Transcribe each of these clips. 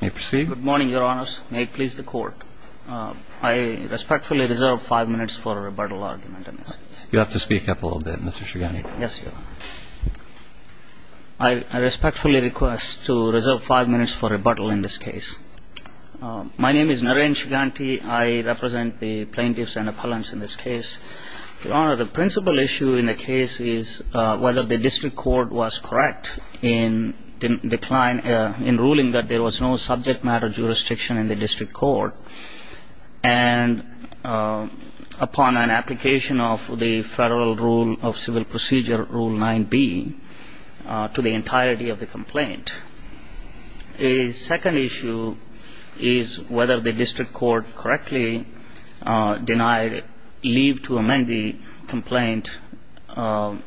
May it please the Court. I respectfully reserve five minutes for a rebuttal argument in this case. You'll have to speak up a little bit, Mr. Shuganti. Yes, Your Honor. I respectfully request to reserve five minutes for rebuttal in this case. My name is Narayan Shuganti. I represent the plaintiffs and appellants in this case. Your Honor, the principal issue in the case is whether the district court was correct in ruling that there was no subject matter jurisdiction in the district court and upon an application of the Federal Rule of Civil Procedure, Rule 9b, to the entirety of the complaint. A second issue is whether the district court correctly denied leave to amend the complaint and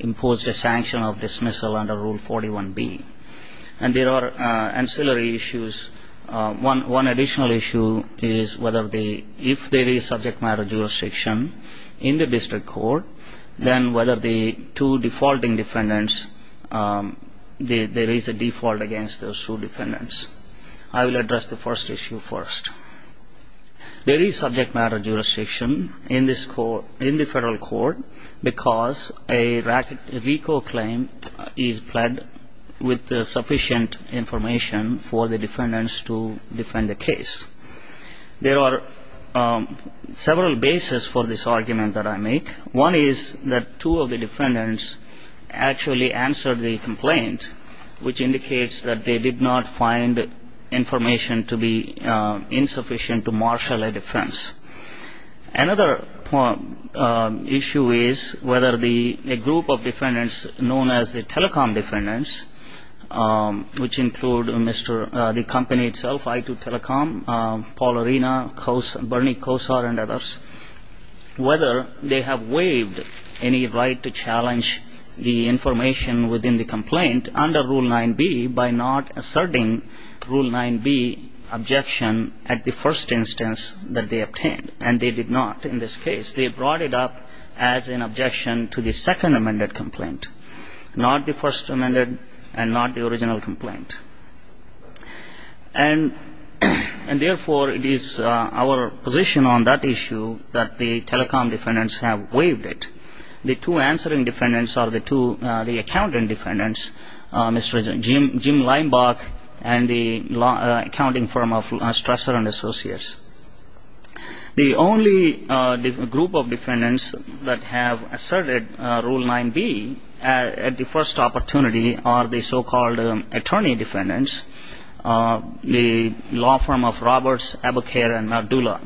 imposed a sanction of dismissal under Rule 41b. And there are ancillary issues. One additional issue is if there is subject matter jurisdiction in the district court, then whether the two defaulting defendants, there is a default against those two defendants. I will address the first issue first. There is subject matter jurisdiction in the federal court because a RICO claim is pled with sufficient information for the defendants to defend the case. There are several bases for this argument that I make. One is that two of the defendants actually answered the complaint, which indicates that they did not find information to be insufficient to marshal a defense. Another issue is whether a group of defendants known as the telecom defendants, which include the company itself, I2 Telecom, Paul Arena, Bernie Kosar, and others, whether they have waived any right to challenge the information within the complaint under Rule 9b by not asserting Rule 9b objection at the first instance that they obtained. And they did not in this case. They brought it up as an objection to the second amended complaint, not the first amended and not the original complaint. And, therefore, it is our position on that issue that the telecom defendants have waived it. The two answering defendants are the two accountant defendants, Mr. Jim Leimbach and the accounting firm of Strasser & Associates. The only group of defendants that have asserted Rule 9b at the first opportunity are the so-called attorney defendants, the law firm of Roberts, Aboukair, and Mardula.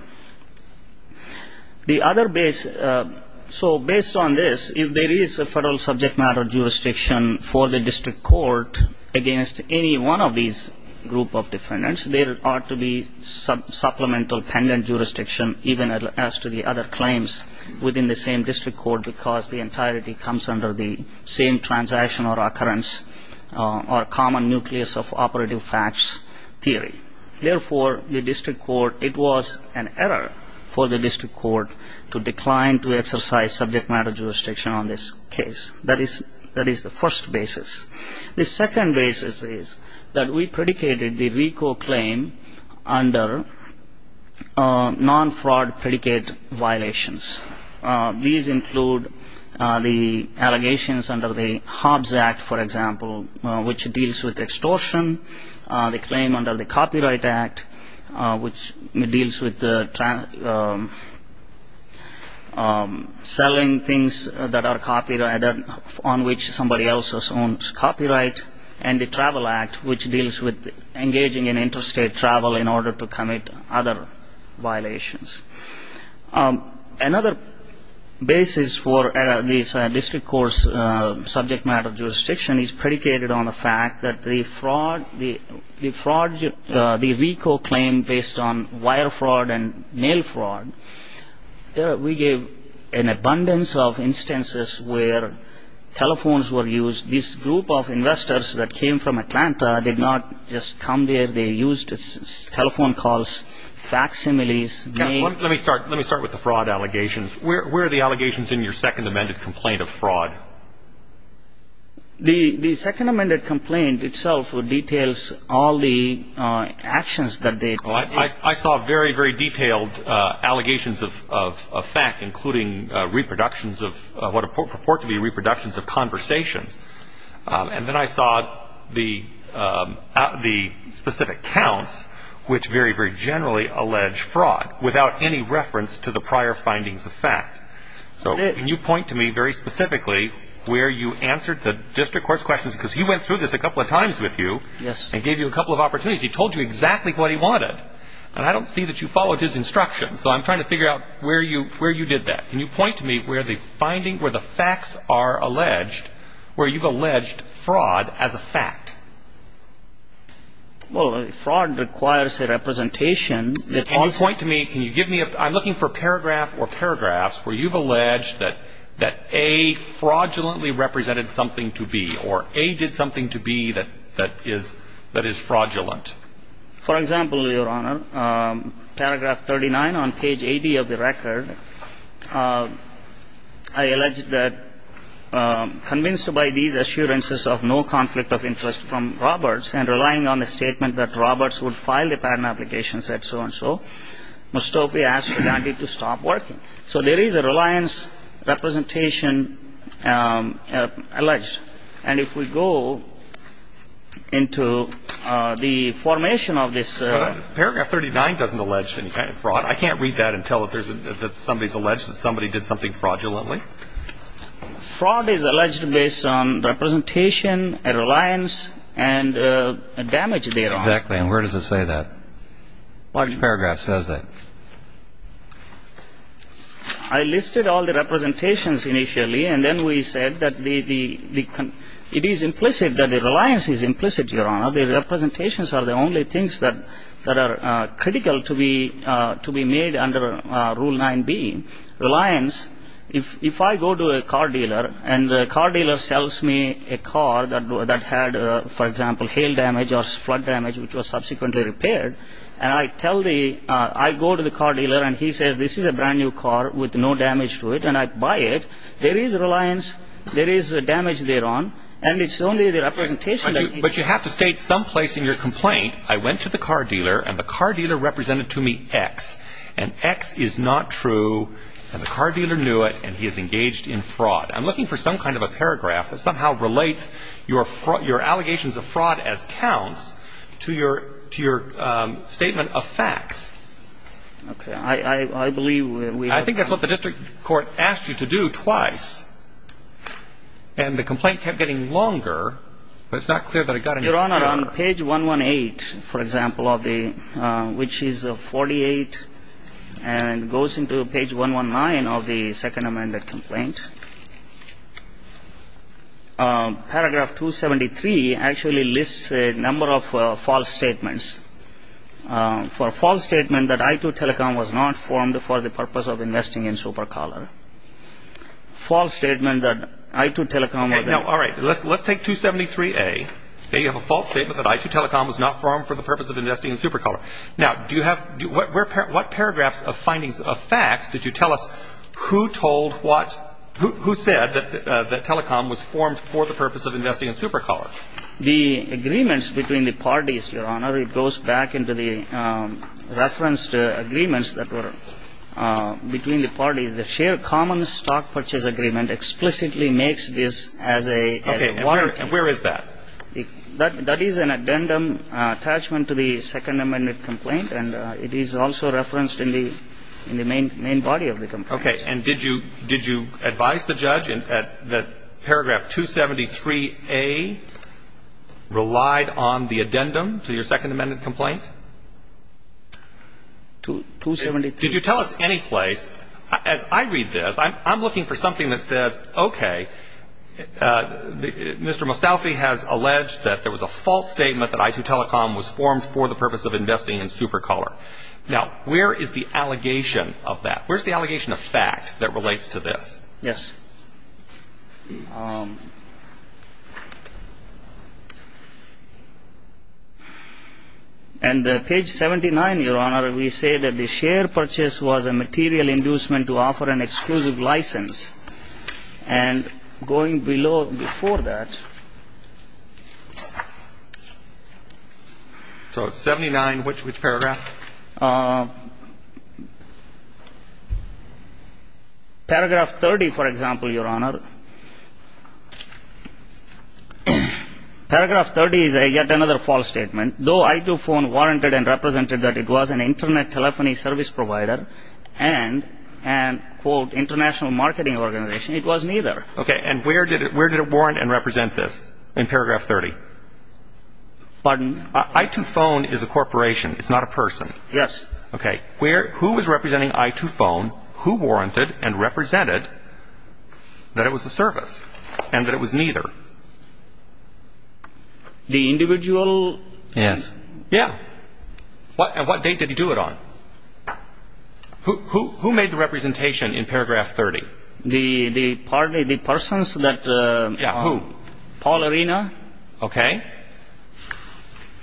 So based on this, if there is a federal subject matter jurisdiction for the district court against any one of these group of defendants, there ought to be supplemental pendant jurisdiction even as to the other claims within the same district court because the entirety comes under the same transaction or occurrence or common nucleus of operative facts theory. Therefore, the district court, it was an error for the district court to decline to exercise subject matter jurisdiction on this case. That is the first basis. The second basis is that we predicated the RICO claim under non-fraud predicate violations. These include the allegations under the Hobbs Act, for example, which deals with extortion, the claim under the Copyright Act, which deals with selling things that are copyrighted on which somebody else has owned copyright, and the Travel Act, which deals with engaging in interstate travel in order to commit other violations. Another basis for this district court's subject matter jurisdiction is predicated on the fact that the fraud, the RICO claim based on wire fraud and mail fraud, we gave an abundance of instances where telephones were used. This group of investors that came from Atlanta did not just come there. They used telephone calls, facsimiles. Let me start with the fraud allegations. Where are the allegations in your second amended complaint of fraud? The second amended complaint itself details all the actions that they took. I saw very, very detailed allegations of fact, including reproductions of what purport to be reproductions of conversations. And then I saw the specific counts, which very, very generally allege fraud without any reference to the prior findings of fact. So can you point to me very specifically where you answered the district court's questions, because he went through this a couple of times with you and gave you a couple of opportunities. He told you exactly what he wanted, and I don't see that you followed his instructions. So I'm trying to figure out where you did that. Can you point to me where the finding, where the facts are alleged, where you've alleged fraud as a fact? Well, fraud requires a representation. Point to me. Can you give me a I'm looking for paragraph or paragraphs where you've alleged that that a fraudulently represented something to be or a did something to be that that is that is fraudulent. For example, Your Honor, paragraph 39 on page 80 of the record, I alleged that convinced by these assurances of no conflict of interest from Roberts and relying on the statement that Roberts would file the patent application, said so-and-so, Mustofi asked Dante to stop working. So there is a reliance representation alleged. And if we go into the formation of this paragraph, 39 doesn't allege any kind of fraud. I can't read that and tell if there's somebody's alleged that somebody did something fraudulently. Fraud is alleged based on representation and reliance and damage. Exactly. And where does it say that paragraph says that I listed all the representations initially. And then we said that the it is implicit that the reliance is implicit, Your Honor. The representations are the only things that that are critical to be to be made under Rule 9B reliance. If I go to a car dealer and the car dealer sells me a car that that had, for example, hail damage or flood damage, which was subsequently repaired, and I tell the I go to the car dealer and he says, this is a brand new car with no damage to it. And I buy it. There is a reliance. There is a damage thereon. And it's only the representation. But you have to state some place in your complaint. I went to the car dealer and the car dealer represented to me X. And X is not true. And the car dealer knew it. And he is engaged in fraud. I'm looking for some kind of a paragraph that somehow relates your allegations of fraud as counts to your statement of facts. Okay. I believe we have time. I think that's what the district court asked you to do twice. And the complaint kept getting longer. But it's not clear that it got any longer. Your Honor, on page 118, for example, of the which is 48 and goes into page 119 of the second amended complaint, paragraph 273 actually lists a number of false statements. For a false statement that I2 Telecom was not formed for the purpose of investing in Supercaller. False statement that I2 Telecom was not. All right. Let's take 273A. You have a false statement that I2 Telecom was not formed for the purpose of investing in Supercaller. Now, do you have what paragraphs of findings of facts did you tell us who told what, who said that Telecom was formed for the purpose of investing in Supercaller? The agreements between the parties, Your Honor. It goes back into the referenced agreements that were between the parties. The share common stock purchase agreement explicitly makes this as a warranty. Okay. And where is that? That is an addendum attachment to the second amended complaint. And it is also referenced in the main body of the complaint. Okay. And did you advise the judge that paragraph 273A relied on the addendum to your second amended complaint? 273A. Did you tell us any place? As I read this, I'm looking for something that says, okay, Mr. Mostafavi has alleged that there was a false statement that I2 Telecom was formed for the purpose of investing in Supercaller. Now, where is the allegation of that? Where is the allegation of fact that relates to this? Yes. And page 79, Your Honor, we say that the share purchase was a material inducement to offer an exclusive license. And going below before that. So it's 79, which paragraph? Paragraph 30, for example, Your Honor. Paragraph 30 is yet another false statement. Though I2 Phone warranted and represented that it was an Internet telephony service provider and an, quote, international marketing organization, it was neither. Okay. And where did it warrant and represent this in paragraph 30? Pardon? I2 Phone is a corporation. It's not a person. Yes. Okay. Who was representing I2 Phone? Who warranted and represented that it was a service and that it was neither? The individual? Yes. Yeah. And what date did he do it on? Who made the representation in paragraph 30? The persons that Paul Arena. Okay.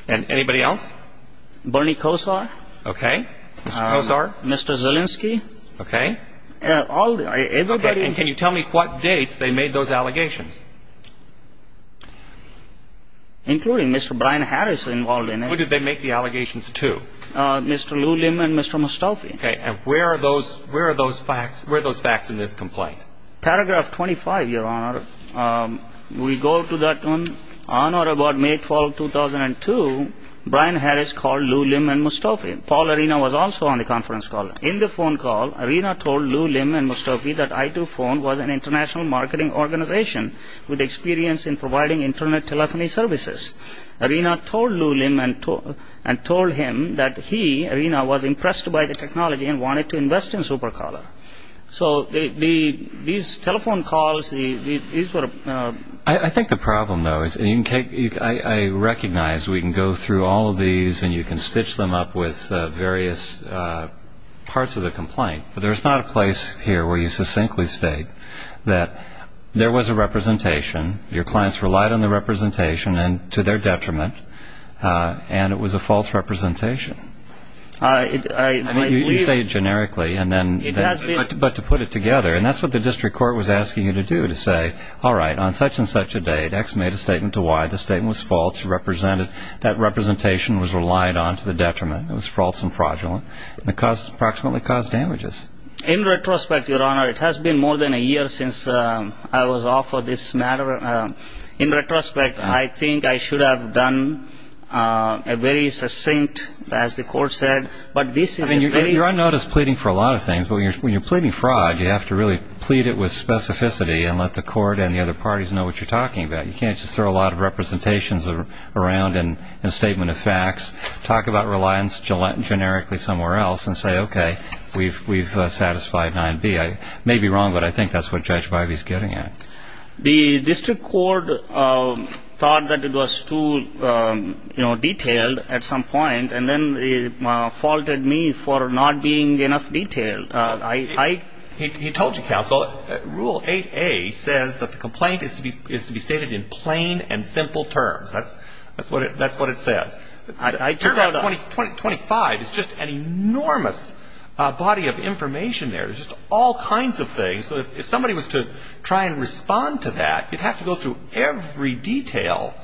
And anybody else? Bernie Kosar. Okay. Mr. Kosar. Mr. Zielinski. Okay. Everybody. And can you tell me what dates they made those allegations? Including Mr. Brian Harris involved in it. Who did they make the allegations to? Mr. Luliam and Mr. Mostofi. Okay. And where are those facts in this complaint? Paragraph 25, Your Honor. We go to that one. On or about May 12, 2002, Brian Harris called Luliam and Mostofi. Paul Arena was also on the conference call. In the phone call, Arena told Luliam and Mostofi that I2 Phone was an international marketing organization with experience in providing Internet telephony services. Arena told Luliam and told him that he, Arena, was impressed by the technology and wanted to invest in Supercaller. So these telephone calls, these were... I think the problem, though, is I recognize we can go through all of these and you can stitch them up with various parts of the complaint, but there's not a place here where you succinctly state that there was a representation, your clients relied on the representation, and to their detriment, and it was a false representation. You say it generically, but to put it together, and that's what the district court was asking you to do, to say, all right, on such and such a date, X made a statement to Y, the statement was false, that representation was relied on to the detriment, it was false and fraudulent, and it approximately caused damages. In retrospect, Your Honor, it has been more than a year since I was offered this matter. In retrospect, I think I should have done a very succinct, as the court said. I mean, you're unnoticed pleading for a lot of things, but when you're pleading fraud, you have to really plead it with specificity and let the court and the other parties know what you're talking about. You can't just throw a lot of representations around in a statement of facts, talk about reliance generically somewhere else, and say, okay, we've satisfied 9B. I may be wrong, but I think that's what Judge Bivey is getting at. The district court thought that it was too detailed at some point, and then faulted me for not being enough detailed. He told you, counsel, Rule 8A says that the complaint is to be stated in plain and simple terms. That's what it says. Paragraph 25 is just an enormous body of information there. There's just all kinds of things. If somebody was to try and respond to that, you'd have to go through every detail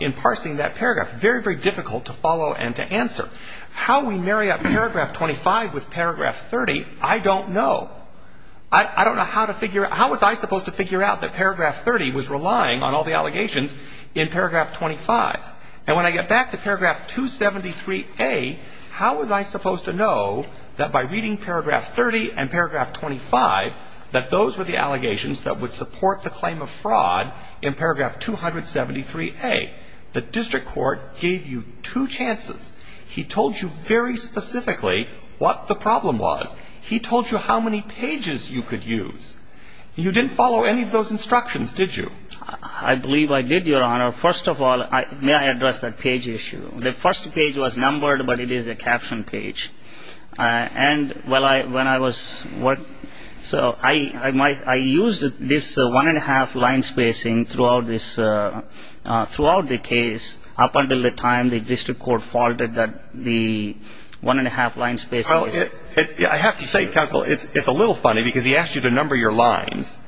in parsing that paragraph. Very, very difficult to follow and to answer. How we marry up paragraph 25 with paragraph 30, I don't know. How was I supposed to figure out that paragraph 30 was relying on all the allegations in paragraph 25? And when I get back to paragraph 273A, how was I supposed to know that by reading paragraph 30 and paragraph 25, that those were the allegations that would support the claim of fraud in paragraph 273A? The district court gave you two chances. He told you very specifically what the problem was. He told you how many pages you could use. You didn't follow any of those instructions, did you? I believe I did, Your Honor. First of all, may I address that page issue? The first page was numbered, but it is a caption page. And when I was working, so I used this one-and-a-half line spacing throughout this, throughout the case up until the time the district court faulted the one-and-a-half line spacing. Well, I have to say, counsel, it's a little funny because he asked you to number your lines.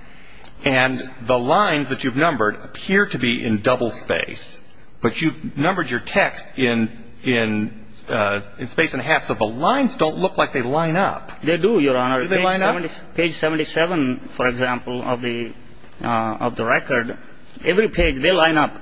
And the lines that you've numbered appear to be in double space. But you've numbered your text in space and a half, so the lines don't look like they line up. They do, Your Honor. Do they line up? Page 77, for example, of the record, every page, they line up.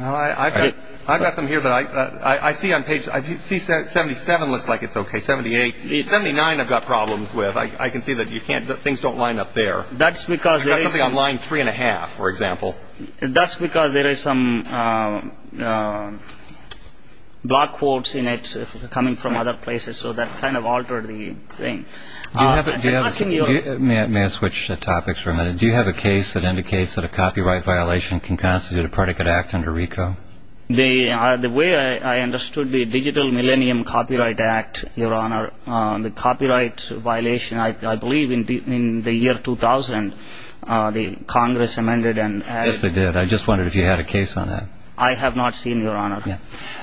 Well, I've got some here, but I see on page 77 looks like it's okay. 78. 79 I've got problems with. I can see that things don't line up there. That's because there is. I've got something on line three-and-a-half, for example. That's because there is some block quotes in it coming from other places, so that kind of altered the thing. May I switch topics for a minute? Do you have a case that indicates that a copyright violation can constitute a predicate act under RICO? The way I understood the Digital Millennium Copyright Act, Your Honor, the copyright violation, I believe in the year 2000, the Congress amended and added. Yes, they did. I just wondered if you had a case on that. I have not seen, Your Honor.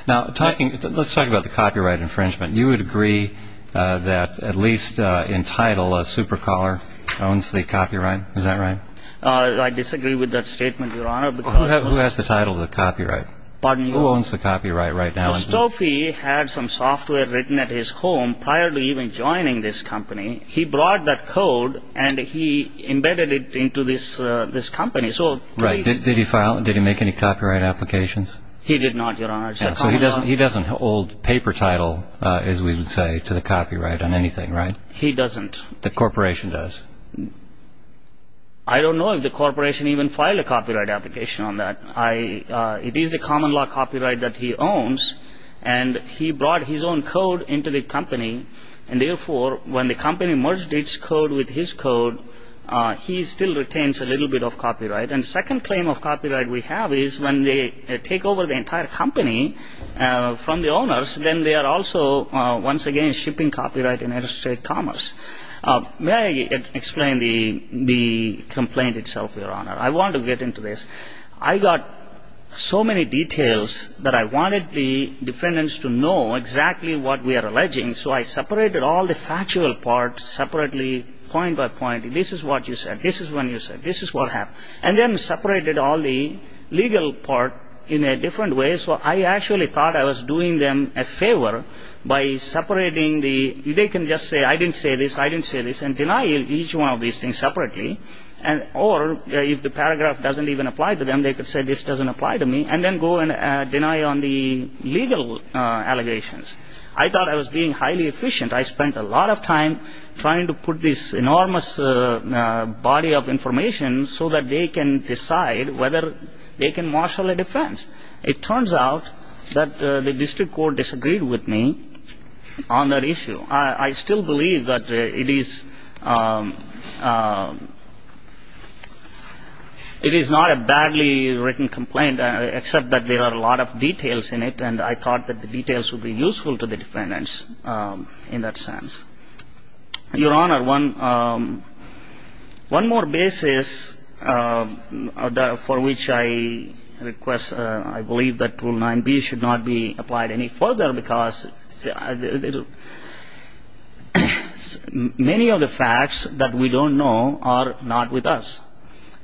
Now, let's talk about the copyright infringement. You would agree that at least in title, a super-caller owns the copyright. Is that right? I disagree with that statement, Your Honor. Who has the title of the copyright? Pardon me? Who owns the copyright right now? Now, Stoffi had some software written at his home prior to even joining this company. He brought that code, and he embedded it into this company. Right. Did he make any copyright applications? He did not, Your Honor. He doesn't hold paper title, as we would say, to the copyright on anything, right? He doesn't. The corporation does. I don't know if the corporation even filed a copyright application on that. It is a common law copyright that he owns, and he brought his own code into the company, and therefore, when the company merged its code with his code, he still retains a little bit of copyright. And the second claim of copyright we have is when they take over the entire company from the owners, then they are also, once again, shipping copyright in interstate commerce. May I explain the complaint itself, Your Honor? I want to get into this. I got so many details that I wanted the defendants to know exactly what we are alleging, so I separated all the factual parts separately, point by point. This is what you said. This is when you said. This is what happened. And then separated all the legal part in a different way, so I actually thought I was doing them a favor by separating the ñ they can just say, I didn't say this, I didn't say this, and deny each one of these things separately, or if the paragraph doesn't even apply to them, they could say this doesn't apply to me, and then go and deny on the legal allegations. I thought I was being highly efficient. I spent a lot of time trying to put this enormous body of information so that they can decide whether they can marshal a defense. It turns out that the district court disagreed with me on that issue. I still believe that it is not a badly written complaint, except that there are a lot of details in it, and I thought that the details would be useful to the defendants in that sense. Your Honor, one more basis for which I request, I believe that Rule 9b should not be applied any further, because many of the facts that we don't know are not with us.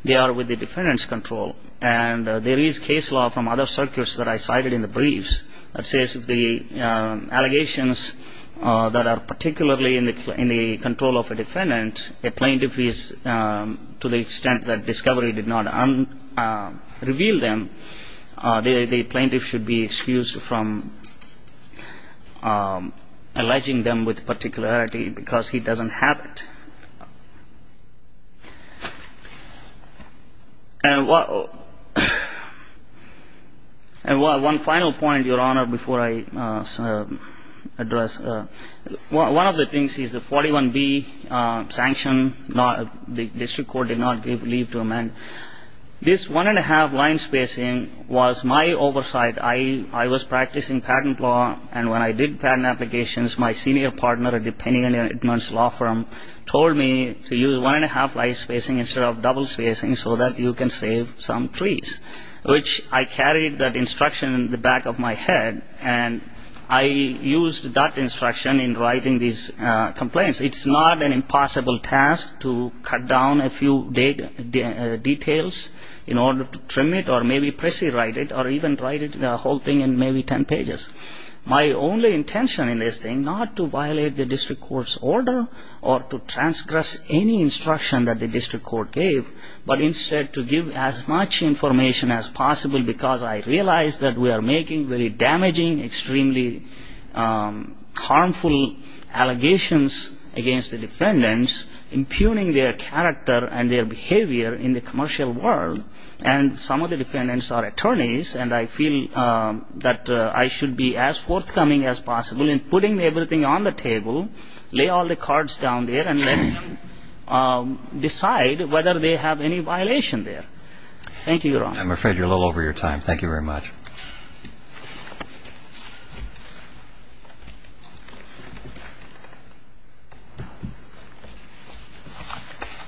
They are with the defendant's control, and there is case law from other circuits that I cited in the briefs that says if the allegations that are particularly in the control of a defendant, a plaintiff is to the extent that discovery did not reveal them, the plaintiff should be excused from alleging them with particularity, because he doesn't have it. And one final point, Your Honor, before I address. One of the things is the 41b sanction. The district court did not give leave to amend. This one-and-a-half line spacing was my oversight. I was practicing patent law, and when I did patent applications, my senior partner at the Penny Edmonds Law Firm told me to use one-and-a-half line spacing instead of double spacing so that you can save some trees, which I carried that instruction in the back of my head, and I used that instruction in writing these complaints. It's not an impossible task to cut down a few details in order to trim it or maybe press-write it or even write the whole thing in maybe ten pages. My only intention in this thing, not to violate the district court's order or to transgress any instruction that the district court gave, but instead to give as much information as possible because I realize that we are making very damaging, extremely harmful allegations against the defendants, impugning their character and their behavior in the commercial world, and some of the defendants are attorneys, and I feel that I should be as forthcoming as possible in putting everything on the table, lay all the cards down there, and then decide whether they have any violation there. Thank you, Your Honor. I'm afraid you're a little over your time. Thank you very much.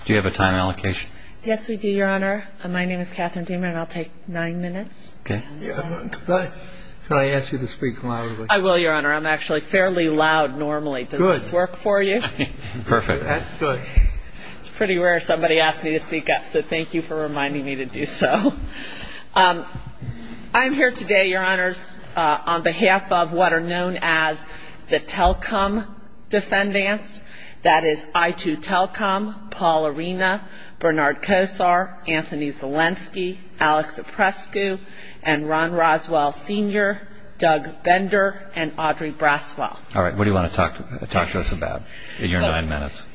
Do you have a time allocation? Yes, we do, Your Honor. My name is Catherine Deamer, and I'll take nine minutes. Okay. Could I ask you to speak loudly? I will, Your Honor. I'm actually fairly loud normally. Good. Does this work for you? Perfect. That's good. It's pretty rare somebody asks me to speak up, so thank you for reminding me to do so. I'm here today, Your Honors, on behalf of what are known as the Telcom defendants, that is I2 Telcom, Paul Arena, Bernard Kosar, Anthony Zelensky, Alex Zeprescu, and Ron Roswell Sr., Doug Bender, and Audrey Braswell. All right. What do you want to talk to us about in your nine minutes?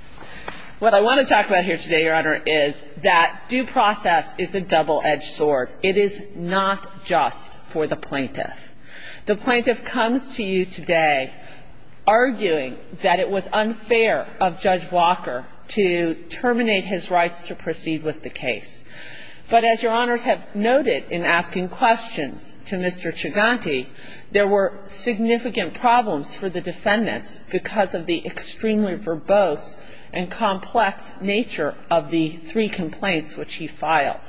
What I want to talk about here today, Your Honor, is that due process is a double-edged sword. It is not just for the plaintiff. The plaintiff comes to you today arguing that it was unfair of Judge Walker to terminate his rights to proceed with the case. But as Your Honors have noted in asking questions to Mr. Chiganti, there were significant problems for the defendants because of the extremely verbose and complex nature of the three complaints which he filed.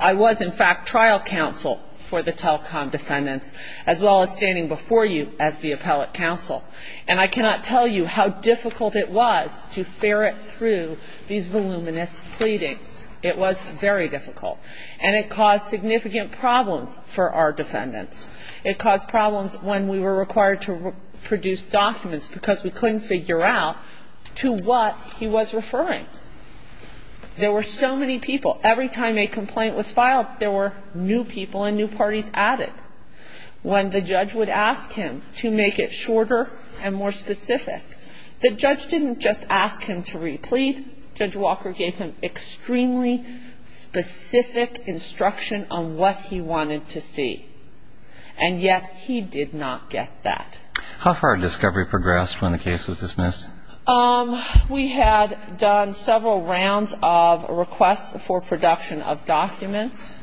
I was, in fact, trial counsel for the Telcom defendants, as well as standing before you as the appellate counsel. And I cannot tell you how difficult it was to ferret through these voluminous pleadings. It was very difficult. And it caused significant problems for our defendants. It caused problems when we were required to produce documents because we couldn't figure out to what he was referring. There were so many people. Every time a complaint was filed, there were new people and new parties added. When the judge would ask him to make it shorter and more specific, the judge didn't just ask him to replete. Judge Walker gave him extremely specific instruction on what he wanted to see. And yet he did not get that. How far did discovery progress when the case was dismissed? We had done several rounds of requests for production of documents.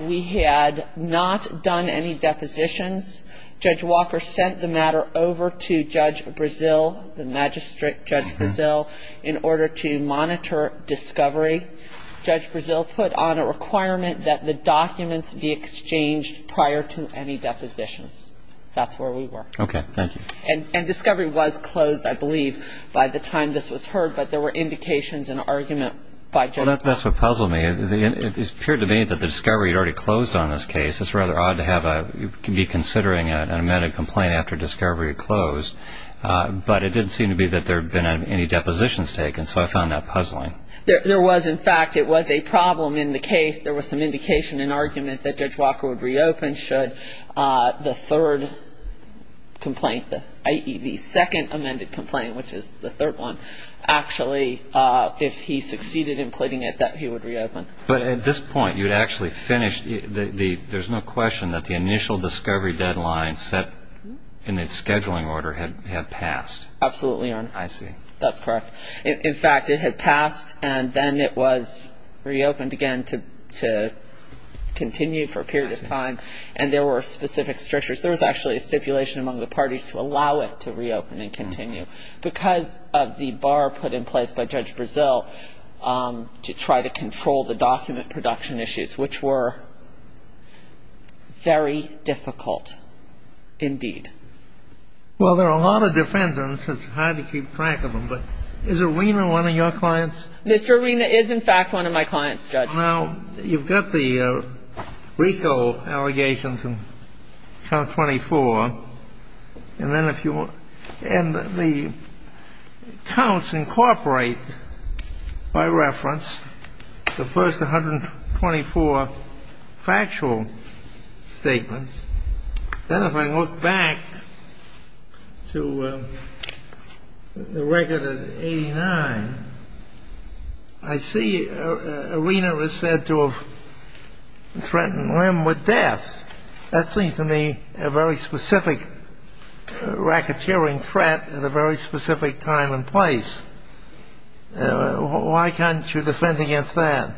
We had not done any depositions. Judge Walker sent the matter over to Judge Brazil, the magistrate, Judge Brazil, in order to monitor discovery. Judge Brazil put on a requirement that the documents be exchanged prior to any depositions. That's where we were. Okay. Thank you. And discovery was closed, I believe, by the time this was heard. But there were indications and argument by Judge Walker. That's what puzzled me. It appeared to me that the discovery had already closed on this case. It's rather odd to be considering an amended complaint after discovery had closed. But it didn't seem to be that there had been any depositions taken. So I found that puzzling. There was, in fact, it was a problem in the case. There was some indication and argument that Judge Walker would reopen should the third complaint, i.e., the second amended complaint, which is the third one, actually, if he succeeded in pleading it, that he would reopen. But at this point, you had actually finished. There's no question that the initial discovery deadline set in the scheduling order had passed. Absolutely, Your Honor. I see. That's correct. In fact, it had passed, and then it was reopened again to continue for a period of time. And there were specific strictures. There was actually a stipulation among the parties to allow it to reopen and continue because of the bar put in place by Judge Brazil to try to control the document production issues, which were very difficult indeed. Well, there are a lot of defendants. It's hard to keep track of them. But is Irina one of your clients? Mr. Irina is, in fact, one of my clients, Judge. Now, you've got the RICO allegations in Count 24. And then if you want to end the counts incorporate, by reference, the first 124 factual statements. Then if I look back to the record of 89, I see Irina was said to have threatened him with death. That seems to me a very specific racketeering threat at a very specific time and place. Why can't you defend against that?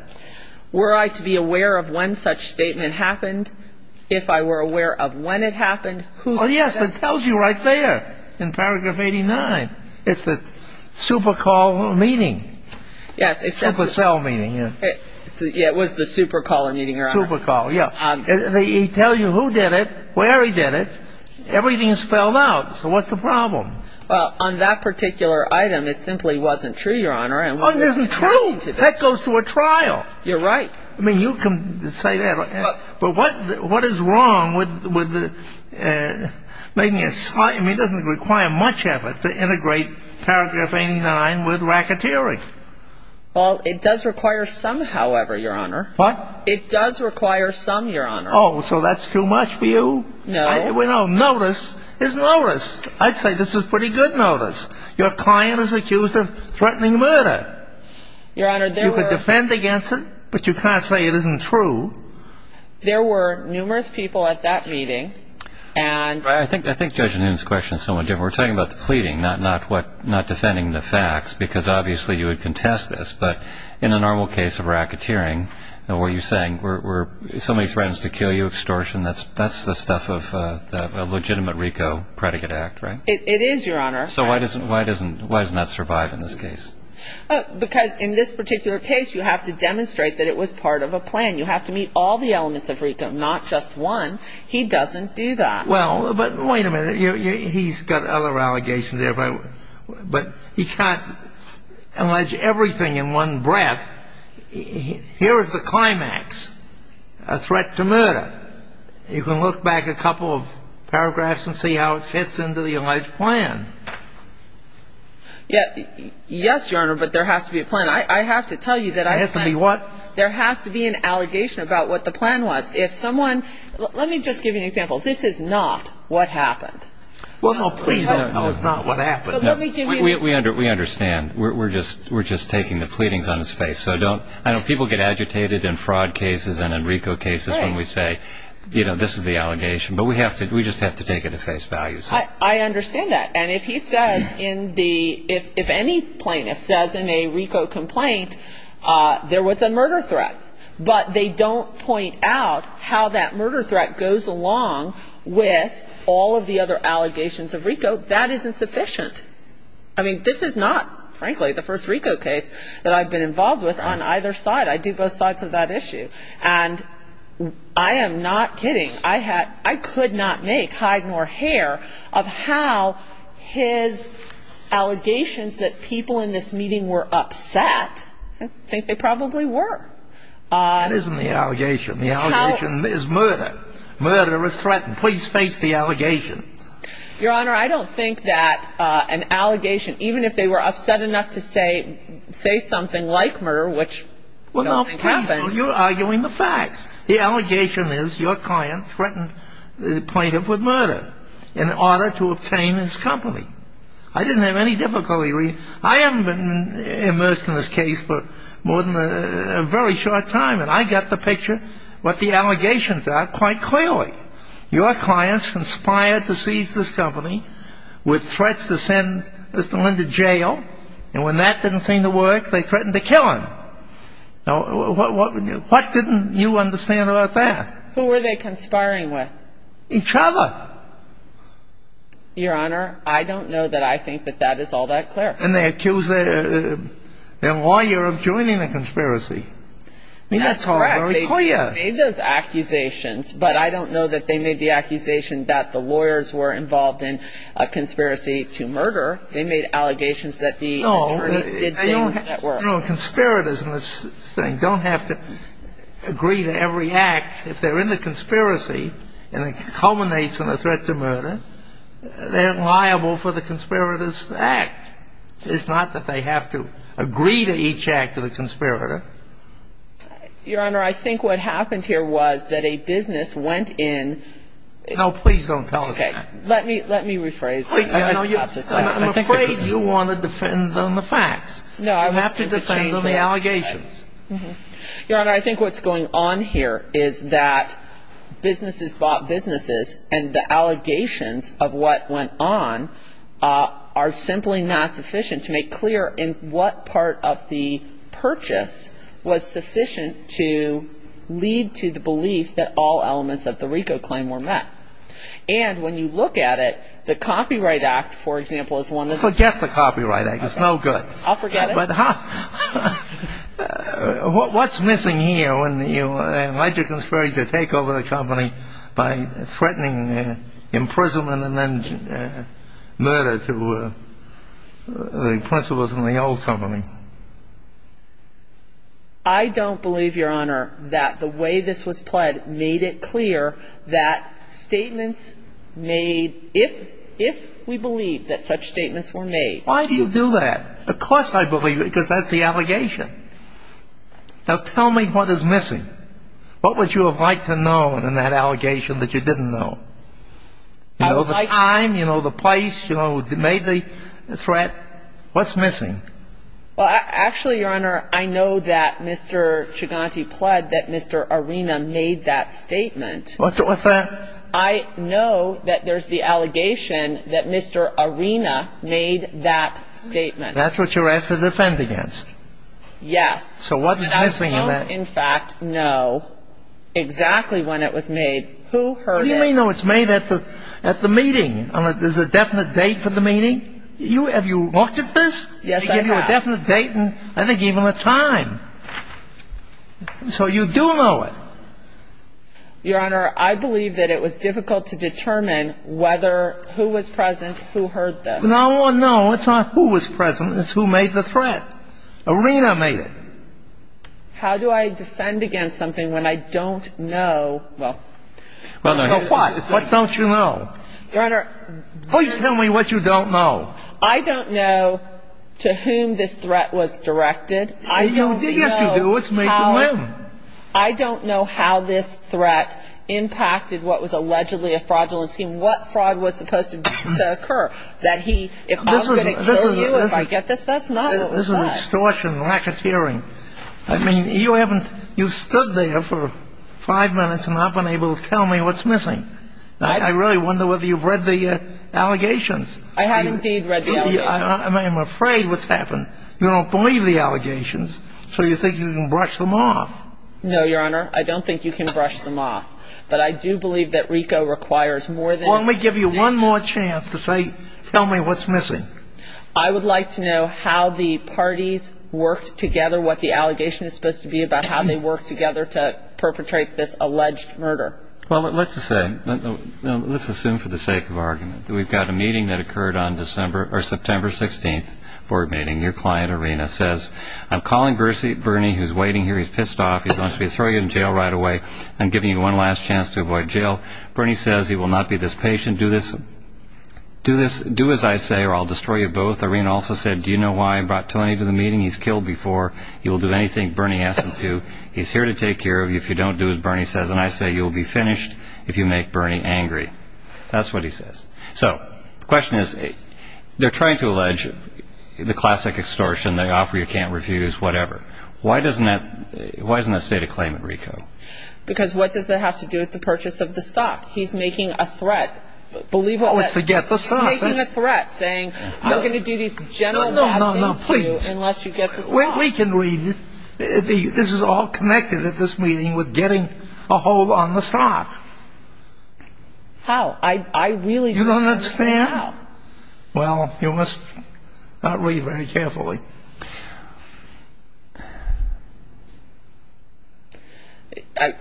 Were I to be aware of when such statement happened? If I were aware of when it happened, who said it? Oh, yes. It tells you right there in paragraph 89. It's the supercall meeting. Yes. Supercell meeting. Yeah. It was the supercaller meeting, Your Honor. Supercall, yeah. They tell you who did it, where he did it. Everything is spelled out. So what's the problem? Well, on that particular item, it simply wasn't true, Your Honor. Oh, it isn't true. That goes to a trial. You're right. I mean, you can say that. But what is wrong with making a slight ‑‑ I mean, it doesn't require much effort to integrate paragraph 89 with racketeering. Well, it does require some, however, Your Honor. What? It does require some, Your Honor. Oh, so that's too much for you? No. No, notice is notice. I'd say this is pretty good notice. Your client is accused of threatening murder. Your Honor, there were ‑‑ You could defend against it, but you can't say it isn't true. There were numerous people at that meeting, and ‑‑ I think Judge Noonan's question is somewhat different. We're talking about the pleading, not defending the facts, because obviously you would contest this. But in a normal case of racketeering, what are you saying? Were so many friends to kill you, extortion? That's the stuff of a legitimate RICO predicate act, right? It is, Your Honor. So why doesn't that survive in this case? Because in this particular case, you have to demonstrate that it was part of a plan. You have to meet all the elements of RICO, not just one. He doesn't do that. Well, but wait a minute. He's got other allegations there, but he can't allege everything in one breath. Here is the climax, a threat to murder. You can look back a couple of paragraphs and see how it fits into the alleged plan. Yes, Your Honor, but there has to be a plan. I have to tell you that I ‑‑ There has to be what? There has to be an allegation about what the plan was. If someone ‑‑ let me just give you an example. This is not what happened. Well, no, please. No, it's not what happened. We understand. We're just taking the pleadings on his face. I know people get agitated in fraud cases and in RICO cases when we say, you know, this is the allegation. But we just have to take it at face value. I understand that. And if he says in the ‑‑ if any plaintiff says in a RICO complaint there was a murder threat, but they don't point out how that murder threat goes along with all of the other allegations of RICO, that is insufficient. I mean, this is not, frankly, the first RICO case that I've been involved with on either side. I do both sides of that issue. And I am not kidding. I could not make hide nor hair of how his allegations that people in this meeting were upset, I think they probably were. That isn't the allegation. The allegation is murder. Murder is threatened. Please face the allegation. Your Honor, I don't think that an allegation, even if they were upset enough to say something like murder, which I don't think happened. Well, no, please. You're arguing the facts. The allegation is your client threatened the plaintiff with murder in order to obtain his company. I didn't have any difficulty. I haven't been immersed in this case for more than a very short time, and I got the picture what the allegations are quite clearly. Your clients conspired to seize this company with threats to send Mr. Lyndon to jail, and when that didn't seem to work, they threatened to kill him. What didn't you understand about that? Who were they conspiring with? Each other. Your Honor, I don't know that I think that that is all that clear. And they accused their lawyer of joining the conspiracy. That's correct. They made those accusations, but I don't know that they made the accusation that the lawyers were involved in a conspiracy to murder. They made allegations that the attorneys did things that were... Conspirators in this thing don't have to agree to every act. If they're in the conspiracy and it culminates in a threat to murder, they're liable for the conspirators' act. It's not that they have to agree to each act of the conspirator. Your Honor, I think what happened here was that a business went in... No, please don't tell us that. Okay. Let me rephrase. I'm afraid you want to defend on the facts. You have to defend on the allegations. Your Honor, I think what's going on here is that businesses bought businesses and the allegations of what went on are simply not sufficient to make clear in what part of the purchase was sufficient to lead to the belief that all elements of the RICO claim were met. And when you look at it, the Copyright Act, for example, is one of the... Forget the Copyright Act. It's no good. I'll forget it. What's missing here when you allege a conspirator to take over the company by threatening imprisonment and then murder to the principals in the old company? I don't believe, Your Honor, that the way this was played made it clear that statements made... if we believe that such statements were made... Why do you do that? Of course I believe it because that's the allegation. Now tell me what is missing. What would you have liked to know in that allegation that you didn't know? You know, the time, you know, the place, you know, who made the threat. What's missing? Well, actually, Your Honor, I know that Mr. Chiganti pled that Mr. Arena made that statement. What's that? Your Honor, I know that there's the allegation that Mr. Arena made that statement. That's what you're asked to defend against. Yes. So what's missing in that? I don't, in fact, know exactly when it was made, who heard it. You may know it's made at the meeting. There's a definite date for the meeting. Have you looked at this? Yes, I have. They give you a definite date and I think even a time. So you do know it. Your Honor, I believe that it was difficult to determine whether who was present, who heard this. No, no, it's not who was present. It's who made the threat. Arena made it. How do I defend against something when I don't know? Well, what? What don't you know? Your Honor. Please tell me what you don't know. I don't know to whom this threat was directed. Yes, you do. It's made to him. I don't know how this threat impacted what was allegedly a fraudulent scheme, what fraud was supposed to occur, that he, if I was going to kill you if I get this, that's not it. This is extortion, lack of hearing. I mean, you haven't, you've stood there for five minutes and not been able to tell me what's missing. I really wonder whether you've read the allegations. I have indeed read the allegations. I'm afraid what's happened. You don't believe the allegations, so you think you can brush them off. No, Your Honor. I don't think you can brush them off. But I do believe that RICO requires more than you can assume. Well, let me give you one more chance to say, tell me what's missing. I would like to know how the parties worked together, what the allegation is supposed to be about how they worked together to perpetrate this alleged murder. Well, let's assume for the sake of argument that we've got a meeting that occurred on September 16th, your client, Irina, says, I'm calling Bernie who's waiting here. He's pissed off. He's going to throw you in jail right away. I'm giving you one last chance to avoid jail. Bernie says he will not be this patient. Do as I say or I'll destroy you both. Irina also said, do you know why I brought Tony to the meeting? He's killed before. He will do anything Bernie asks him to. He's here to take care of you if you don't do as Bernie says. And I say you'll be finished if you make Bernie angry. That's what he says. So the question is, they're trying to allege the classic extortion. They offer you can't refuse, whatever. Why doesn't that state a claim at RICO? Because what does that have to do with the purchase of the stock? He's making a threat. Oh, it's to get the stock. He's making a threat saying you're going to do these general bad things to me unless you get the stock. Well, we can read it. This is all connected at this meeting with getting a hold on the stock. How? You don't understand? Well, you must not read very carefully.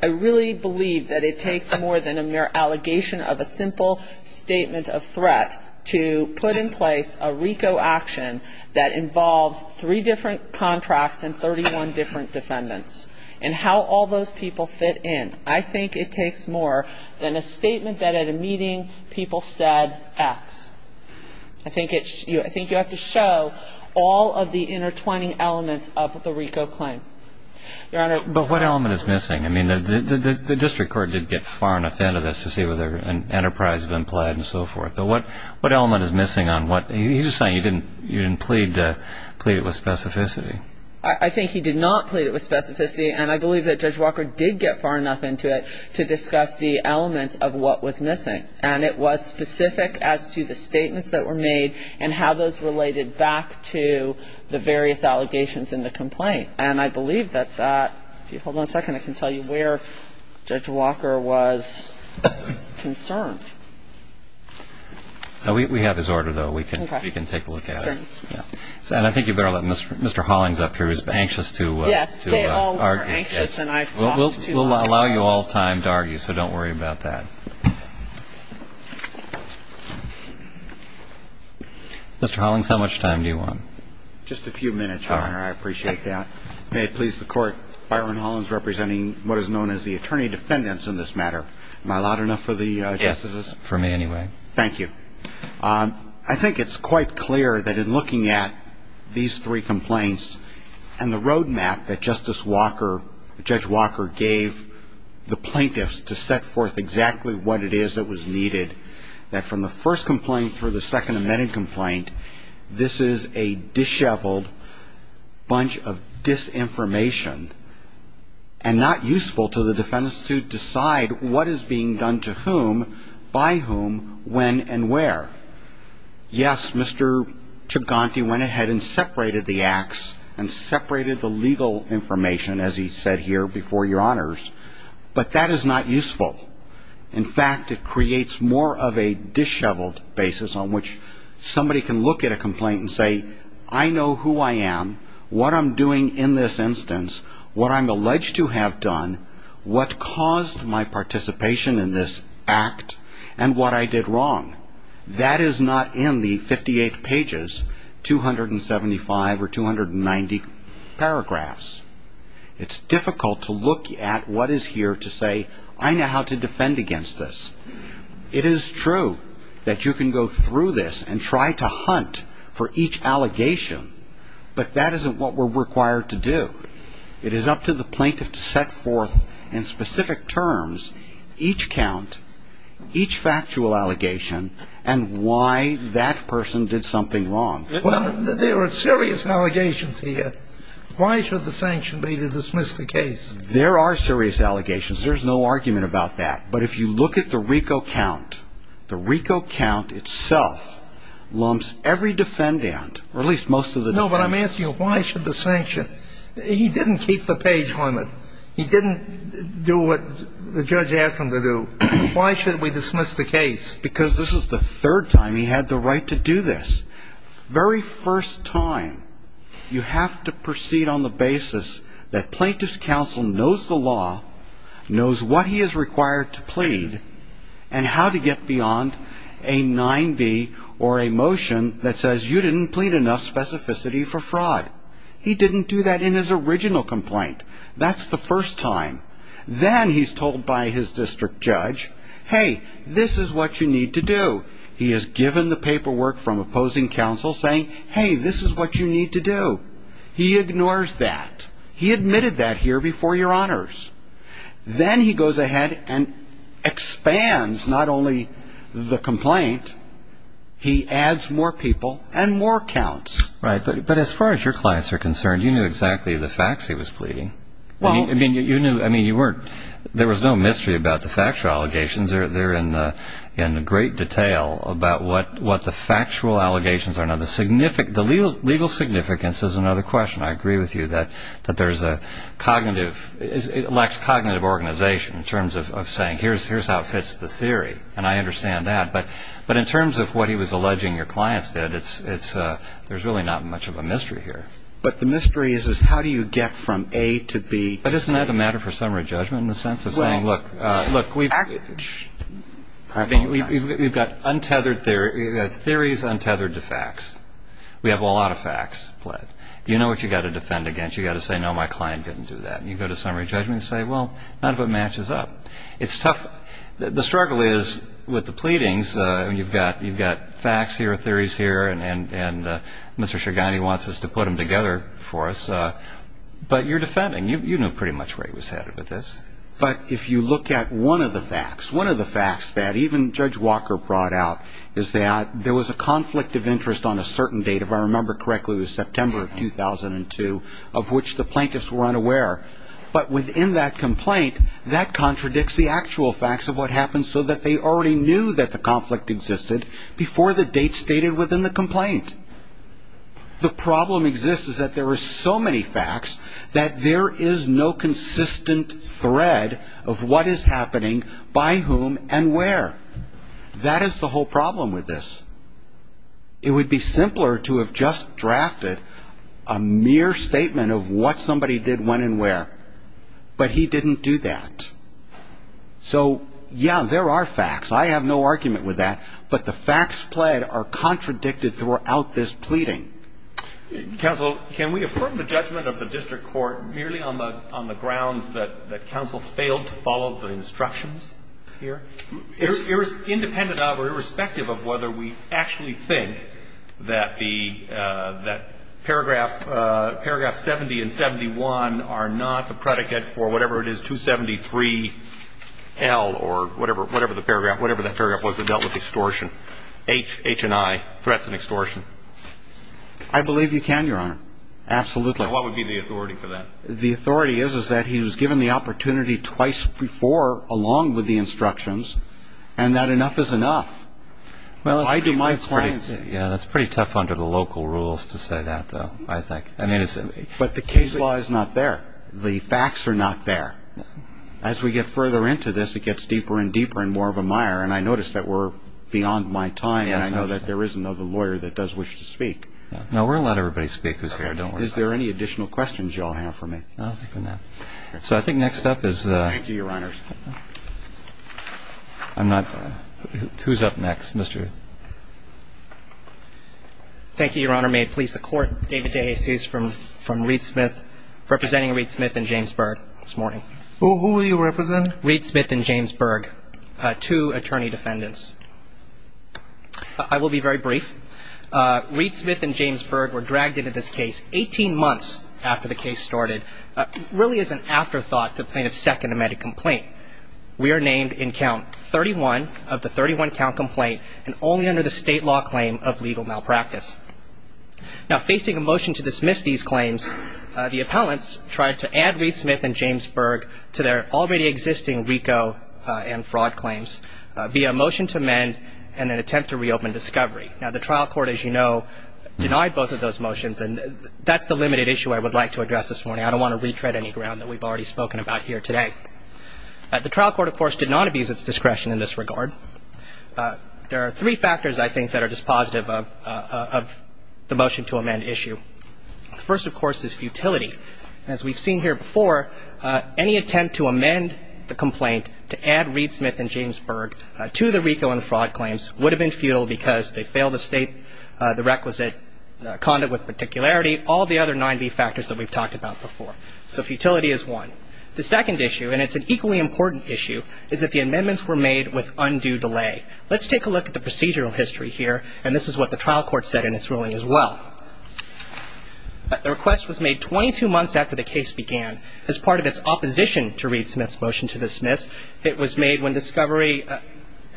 I really believe that it takes more than a mere allegation of a simple statement of threat to put in place a RICO action that involves three different contracts and 31 different defendants and how all those people fit in. I think it takes more than a statement that at a meeting people said X. I think you have to show all of the intertwining elements of the RICO claim. Your Honor. But what element is missing? I mean, the district court did get far enough into this to see whether an enterprise had been plied and so forth. But what element is missing on what? He's just saying you didn't plead with specificity. I think he did not plead with specificity. And I believe that Judge Walker did get far enough into it to discuss the elements of what was missing. And it was specific as to the statements that were made and how those related back to the various allegations in the complaint. And I believe that's that. Hold on a second. I can tell you where Judge Walker was concerned. We have his order, though. We can take a look at it. And I think you better let Mr. Hollings up here. He was anxious to argue. Yes, they all were anxious. We'll allow you all time to argue, so don't worry about that. Mr. Hollings, how much time do you want? Just a few minutes, Your Honor. I appreciate that. May it please the Court, Byron Hollings representing what is known as the attorney defendants in this matter. Am I loud enough for the justices? Yes. For me anyway. Thank you. I think it's quite clear that in looking at these three complaints and the roadmap that Justice Walker, Judge Walker, gave the plaintiffs to set forth exactly what it is that was needed, that from the first complaint through the second amended complaint, this is a disheveled bunch of disinformation and not useful to the defendants to decide what is being done to whom, by whom, when, and where. Yes, Mr. Chiganti went ahead and separated the acts and separated the legal information, as he said here before Your Honors, but that is not useful. In fact, it creates more of a disheveled basis on which somebody can look at a complaint and say, I know who I am, what I'm doing in this instance, what I'm alleged to have done, what caused my participation in this act, and what I did wrong. That is not in the 58 pages, 275 or 290 paragraphs. It's difficult to look at what is here to say, I know how to defend against this. It is true that you can go through this and try to hunt for each allegation, but that isn't what we're required to do. It is up to the plaintiff to set forth in specific terms each count, each factual allegation, and why that person did something wrong. There are serious allegations here. Why should the sanction be to dismiss the case? There are serious allegations. There's no argument about that. But if you look at the RICO count, the RICO count itself lumps every defendant, or at least most of the defendants. No, but I'm asking you, why should the sanction? He didn't keep the page on it. He didn't do what the judge asked him to do. Why should we dismiss the case? Because this is the third time he had the right to do this. Very first time. You have to proceed on the basis that plaintiff's counsel knows the law, knows what he is required to plead, and how to get beyond a 9B or a motion that says, you didn't plead enough specificity for fraud. He didn't do that in his original complaint. That's the first time. Then he's told by his district judge, hey, this is what you need to do. He is given the paperwork from opposing counsel saying, hey, this is what you need to do. He ignores that. He admitted that here before your honors. Then he goes ahead and expands not only the complaint, he adds more people and more counts. Right. But as far as your clients are concerned, you knew exactly the facts he was pleading. I mean, there was no mystery about the factual allegations. They're in great detail about what the factual allegations are. Now, the legal significance is another question. I agree with you that there's a cognitive, it lacks cognitive organization in terms of saying, here's how it fits the theory, and I understand that. But in terms of what he was alleging your clients did, there's really not much of a mystery here. But the mystery is how do you get from A to B? Isn't that a matter for summary judgment in the sense of saying, look, we've got theories untethered to facts. We have a lot of facts. You know what you've got to defend against. You've got to say, no, my client didn't do that. You go to summary judgment and say, well, not if it matches up. It's tough. The struggle is with the pleadings, you've got facts here, theories here, and Mr. Chagany wants us to put them together for us. But you're defending. You knew pretty much where he was headed with this. But if you look at one of the facts, one of the facts that even Judge Walker brought out is that there was a conflict of interest on a certain date, if I remember correctly, it was September of 2002, of which the plaintiffs were unaware. But within that complaint, that contradicts the actual facts of what happened so that they already knew that the conflict existed before the date stated within the complaint. The problem exists is that there are so many facts that there is no consistent thread of what is happening by whom and where. That is the whole problem with this. It would be simpler to have just drafted a mere statement of what somebody did when and where. But he didn't do that. So, yeah, there are facts. I have no argument with that. But the facts played are contradicted throughout this pleading. Counsel, can we affirm the judgment of the district court merely on the grounds that counsel failed to follow the instructions here? Independent of or irrespective of whether we actually think that the paragraph 70 and 71 are not the predicate for whatever it is, 273L, or whatever that paragraph was that dealt with extortion. H and I, threats and extortion. I believe you can, Your Honor. Absolutely. What would be the authority for that? The authority is that he was given the opportunity twice before, along with the instructions, and that enough is enough. I do my clients. Yeah, that's pretty tough under the local rules to say that, though, I think. But the case law is not there. The facts are not there. As we get further into this, it gets deeper and deeper and more of a mire. And I notice that we're beyond my time, and I know that there is another lawyer that does wish to speak. No, we're going to let everybody speak who's here. Is there any additional questions you all have for me? No. So I think next up is... Thank you, Your Honor. I'm not... Who's up next? Mr.... Thank you, Your Honor. May it please the Court, David DeJesus from Reed Smith, representing Reed Smith and James Berg this morning. Who will you represent? Reed Smith and James Berg, two attorney defendants. I will be very brief. Reed Smith and James Berg were dragged into this case 18 months after the case started. It really is an afterthought to the plaintiff's second amended complaint. We are named in count 31 of the 31-count complaint and only under the state law claim of legal malpractice. Now, facing a motion to dismiss these claims, the appellants tried to add Reed Smith and James Berg to their already existing RICO and fraud claims via a motion to amend and an attempt to reopen discovery. Now, the trial court, as you know, denied both of those motions, and that's the limited issue I would like to address this morning. I don't want to retread any ground that we've already spoken about here today. The trial court, of course, did not abuse its discretion in this regard. There are three factors, I think, that are dispositive of the motion to amend issue. The first, of course, is futility. As we've seen here before, any attempt to amend the complaint to add Reed Smith and James Berg to the RICO and fraud claims would have been futile because they fail to state the requisite conduct with particularity, all the other nine B factors that we've talked about before. So futility is one. The second issue, and it's an equally important issue, is that the amendments were made with undue delay. Let's take a look at the procedural history here, and this is what the trial court said in its ruling as well. The request was made 22 months after the case began. As part of its opposition to Reed Smith's motion to dismiss, it was made when discovery,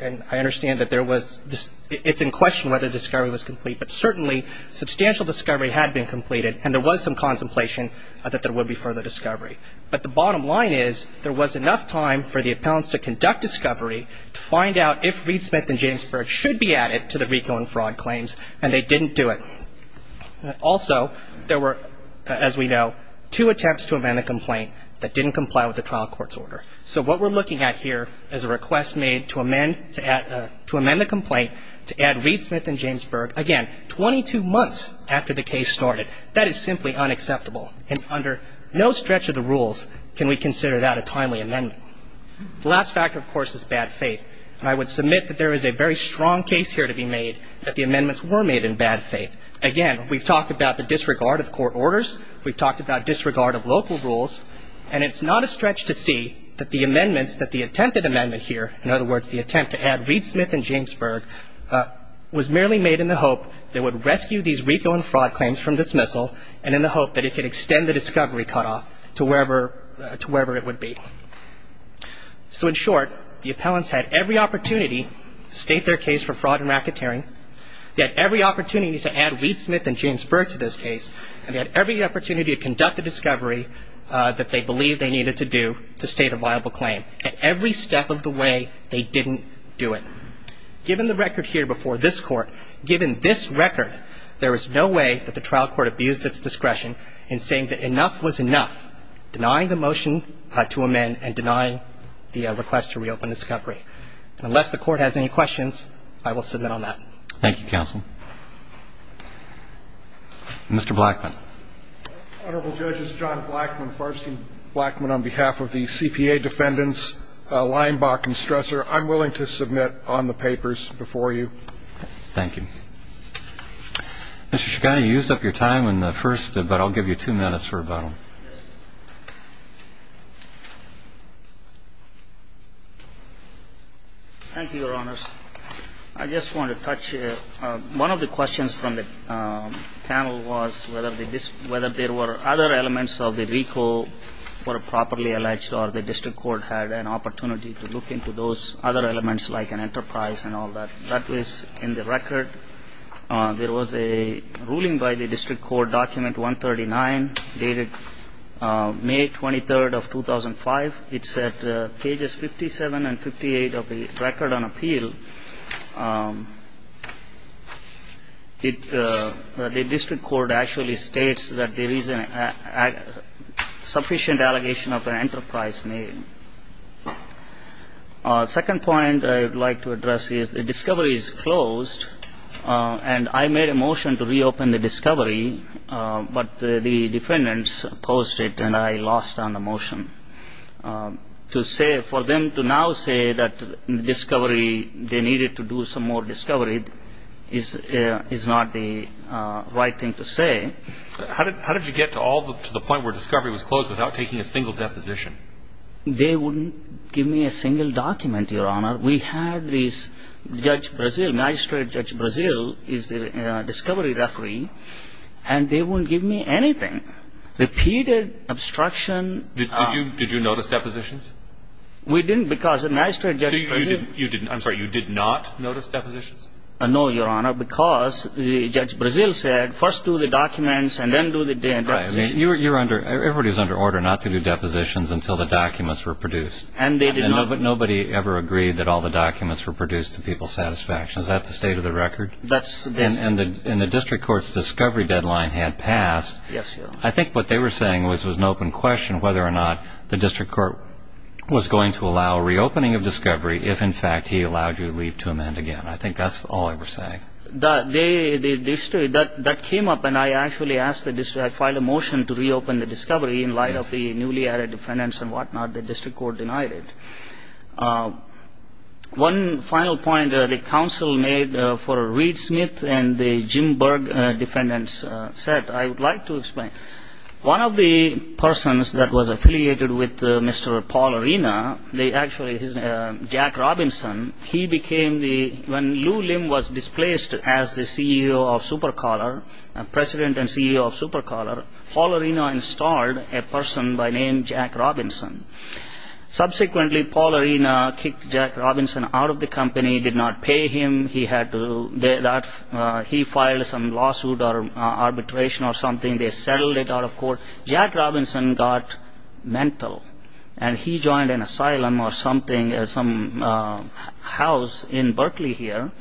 and I understand that there was, it's in question whether discovery was complete, but certainly substantial discovery had been completed and there was some contemplation that there would be further discovery. But the bottom line is there was enough time for the appellants to conduct discovery to find out if Reed Smith and James Berg should be added to the RICO and fraud claims, and they didn't do it. Also, there were, as we know, two attempts to amend the complaint that didn't comply with the trial court's order. So what we're looking at here is a request made to amend the complaint to add Reed Smith and James Berg, again, 22 months after the case started. That is simply unacceptable, and under no stretch of the rules can we consider that a timely amendment. The last factor, of course, is bad faith, and I would submit that there is a very strong case here to be made that the amendments were made in bad faith. Again, we've talked about the disregard of court orders, we've talked about disregard of local rules, and it's not a stretch to see that the amendments that the attempted amendment here, in other words, the attempt to add Reed Smith and James Berg, was merely made in the hope that it would rescue these RICO and fraud claims from dismissal and in the hope that it could extend the discovery cutoff to wherever it would be. So in short, the appellants had every opportunity to state their case for fraud and racketeering, they had every opportunity to add Reed Smith and James Berg to this case, and they had every opportunity to conduct the discovery that they believed they needed to do to state a viable claim at every step of the way they didn't do it. Given the record here before this Court, given this record, there is no way that the trial court abused its discretion in saying that enough was enough, denying the motion to amend and denying the request to reopen discovery. Unless the Court has any questions, I will submit on that. Thank you, counsel. Mr. Blackman. Honorable Judges, John Blackman, Farskin Blackman, on behalf of the CPA defendants, Leinbach and Stressor, I'm willing to submit on the papers before you. Thank you. Mr. Shkani, you used up your time in the first, but I'll give you two minutes for about a minute. Thank you, Your Honors. I just want to touch, one of the questions from the panel was whether there were other elements of the RICO that were properly alleged or the district court had an opportunity to look into those other elements like an enterprise and all that. That was in the record. There was a ruling by the district court document 139 dated May 23rd of 2005. It's at pages 57 and 58 of the record on appeal. The district court actually states that there is a sufficient allegation of an enterprise name. Second point I would like to address is the discovery is closed, and I made a motion to reopen the discovery, but the defendants opposed it and I lost on the motion. To say, for them to now say that discovery, they needed to do some more discovery is not the right thing to say. How did you get to the point where discovery was closed without taking a single deposition? They wouldn't give me a single document, Your Honor. We had this Judge Brazil, Magistrate Judge Brazil is the discovery referee, and they wouldn't give me anything. Repeated obstruction. Did you notice depositions? We didn't because Magistrate Judge Brazil I'm sorry, you did not notice depositions? No, Your Honor, because Judge Brazil said first do the documents and then do the depositions. Everybody was under order not to do depositions until the documents were produced. And they did not. But nobody ever agreed that all the documents were produced to people's satisfaction. Is that the state of the record? That's the state of the record. And the district court's discovery deadline had passed. Yes, Your Honor. I think what they were saying was it was an open question whether or not the district court was going to allow a reopening of discovery if, in fact, he allowed you to leave to amend again. I think that's all they were saying. That came up and I actually asked the district, I filed a motion to reopen the discovery in light of the newly added defendants and whatnot. The district court denied it. One final point the counsel made for Reed Smith and the Jim Berg defendants said, I would like to explain. One of the persons that was affiliated with Mr. Paul Arena, they actually, Jack Robinson, he became the when Lou Lim was displaced as the CEO of Supercaller, President and CEO of Supercaller, Paul Arena installed a person by name Jack Robinson. Subsequently, Paul Arena kicked Jack Robinson out of the company, did not pay him. He had to, he filed some lawsuit or arbitration or something. They settled it out of court. Jack Robinson got mental and he joined an asylum or something, some house in Berkeley here.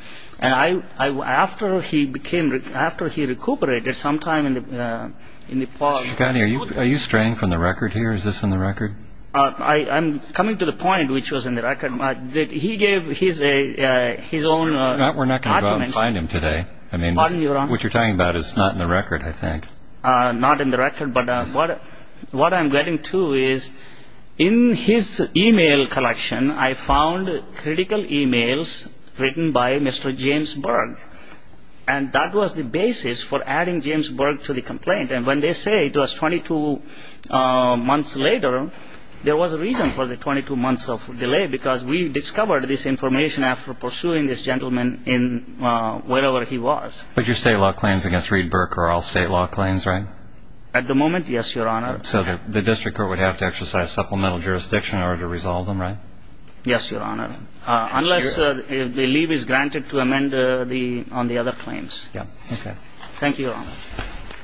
After he became, after he recuperated sometime in Nepal. Mr. Shikhani, are you straying from the record here? Is this in the record? I'm coming to the point which was in the record. He gave his own argument. We're not going to go out and find him today. I mean, what you're talking about is not in the record, I think. Not in the record. What I'm getting to is in his e-mail collection, I found critical e-mails written by Mr. James Berg. And that was the basis for adding James Berg to the complaint. And when they say it was 22 months later, there was a reason for the 22 months of delay, because we discovered this information after pursuing this gentleman wherever he was. But your state law claims against Reed Berg are all state law claims, right? At the moment, yes, Your Honor. So the district court would have to exercise supplemental jurisdiction in order to resolve them, right? Yes, Your Honor, unless the leave is granted to amend on the other claims. Okay. Thank you, Your Honor.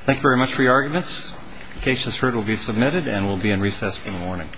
Thank you very much for your arguments. The case is heard, will be submitted, and we'll be in recess for the morning.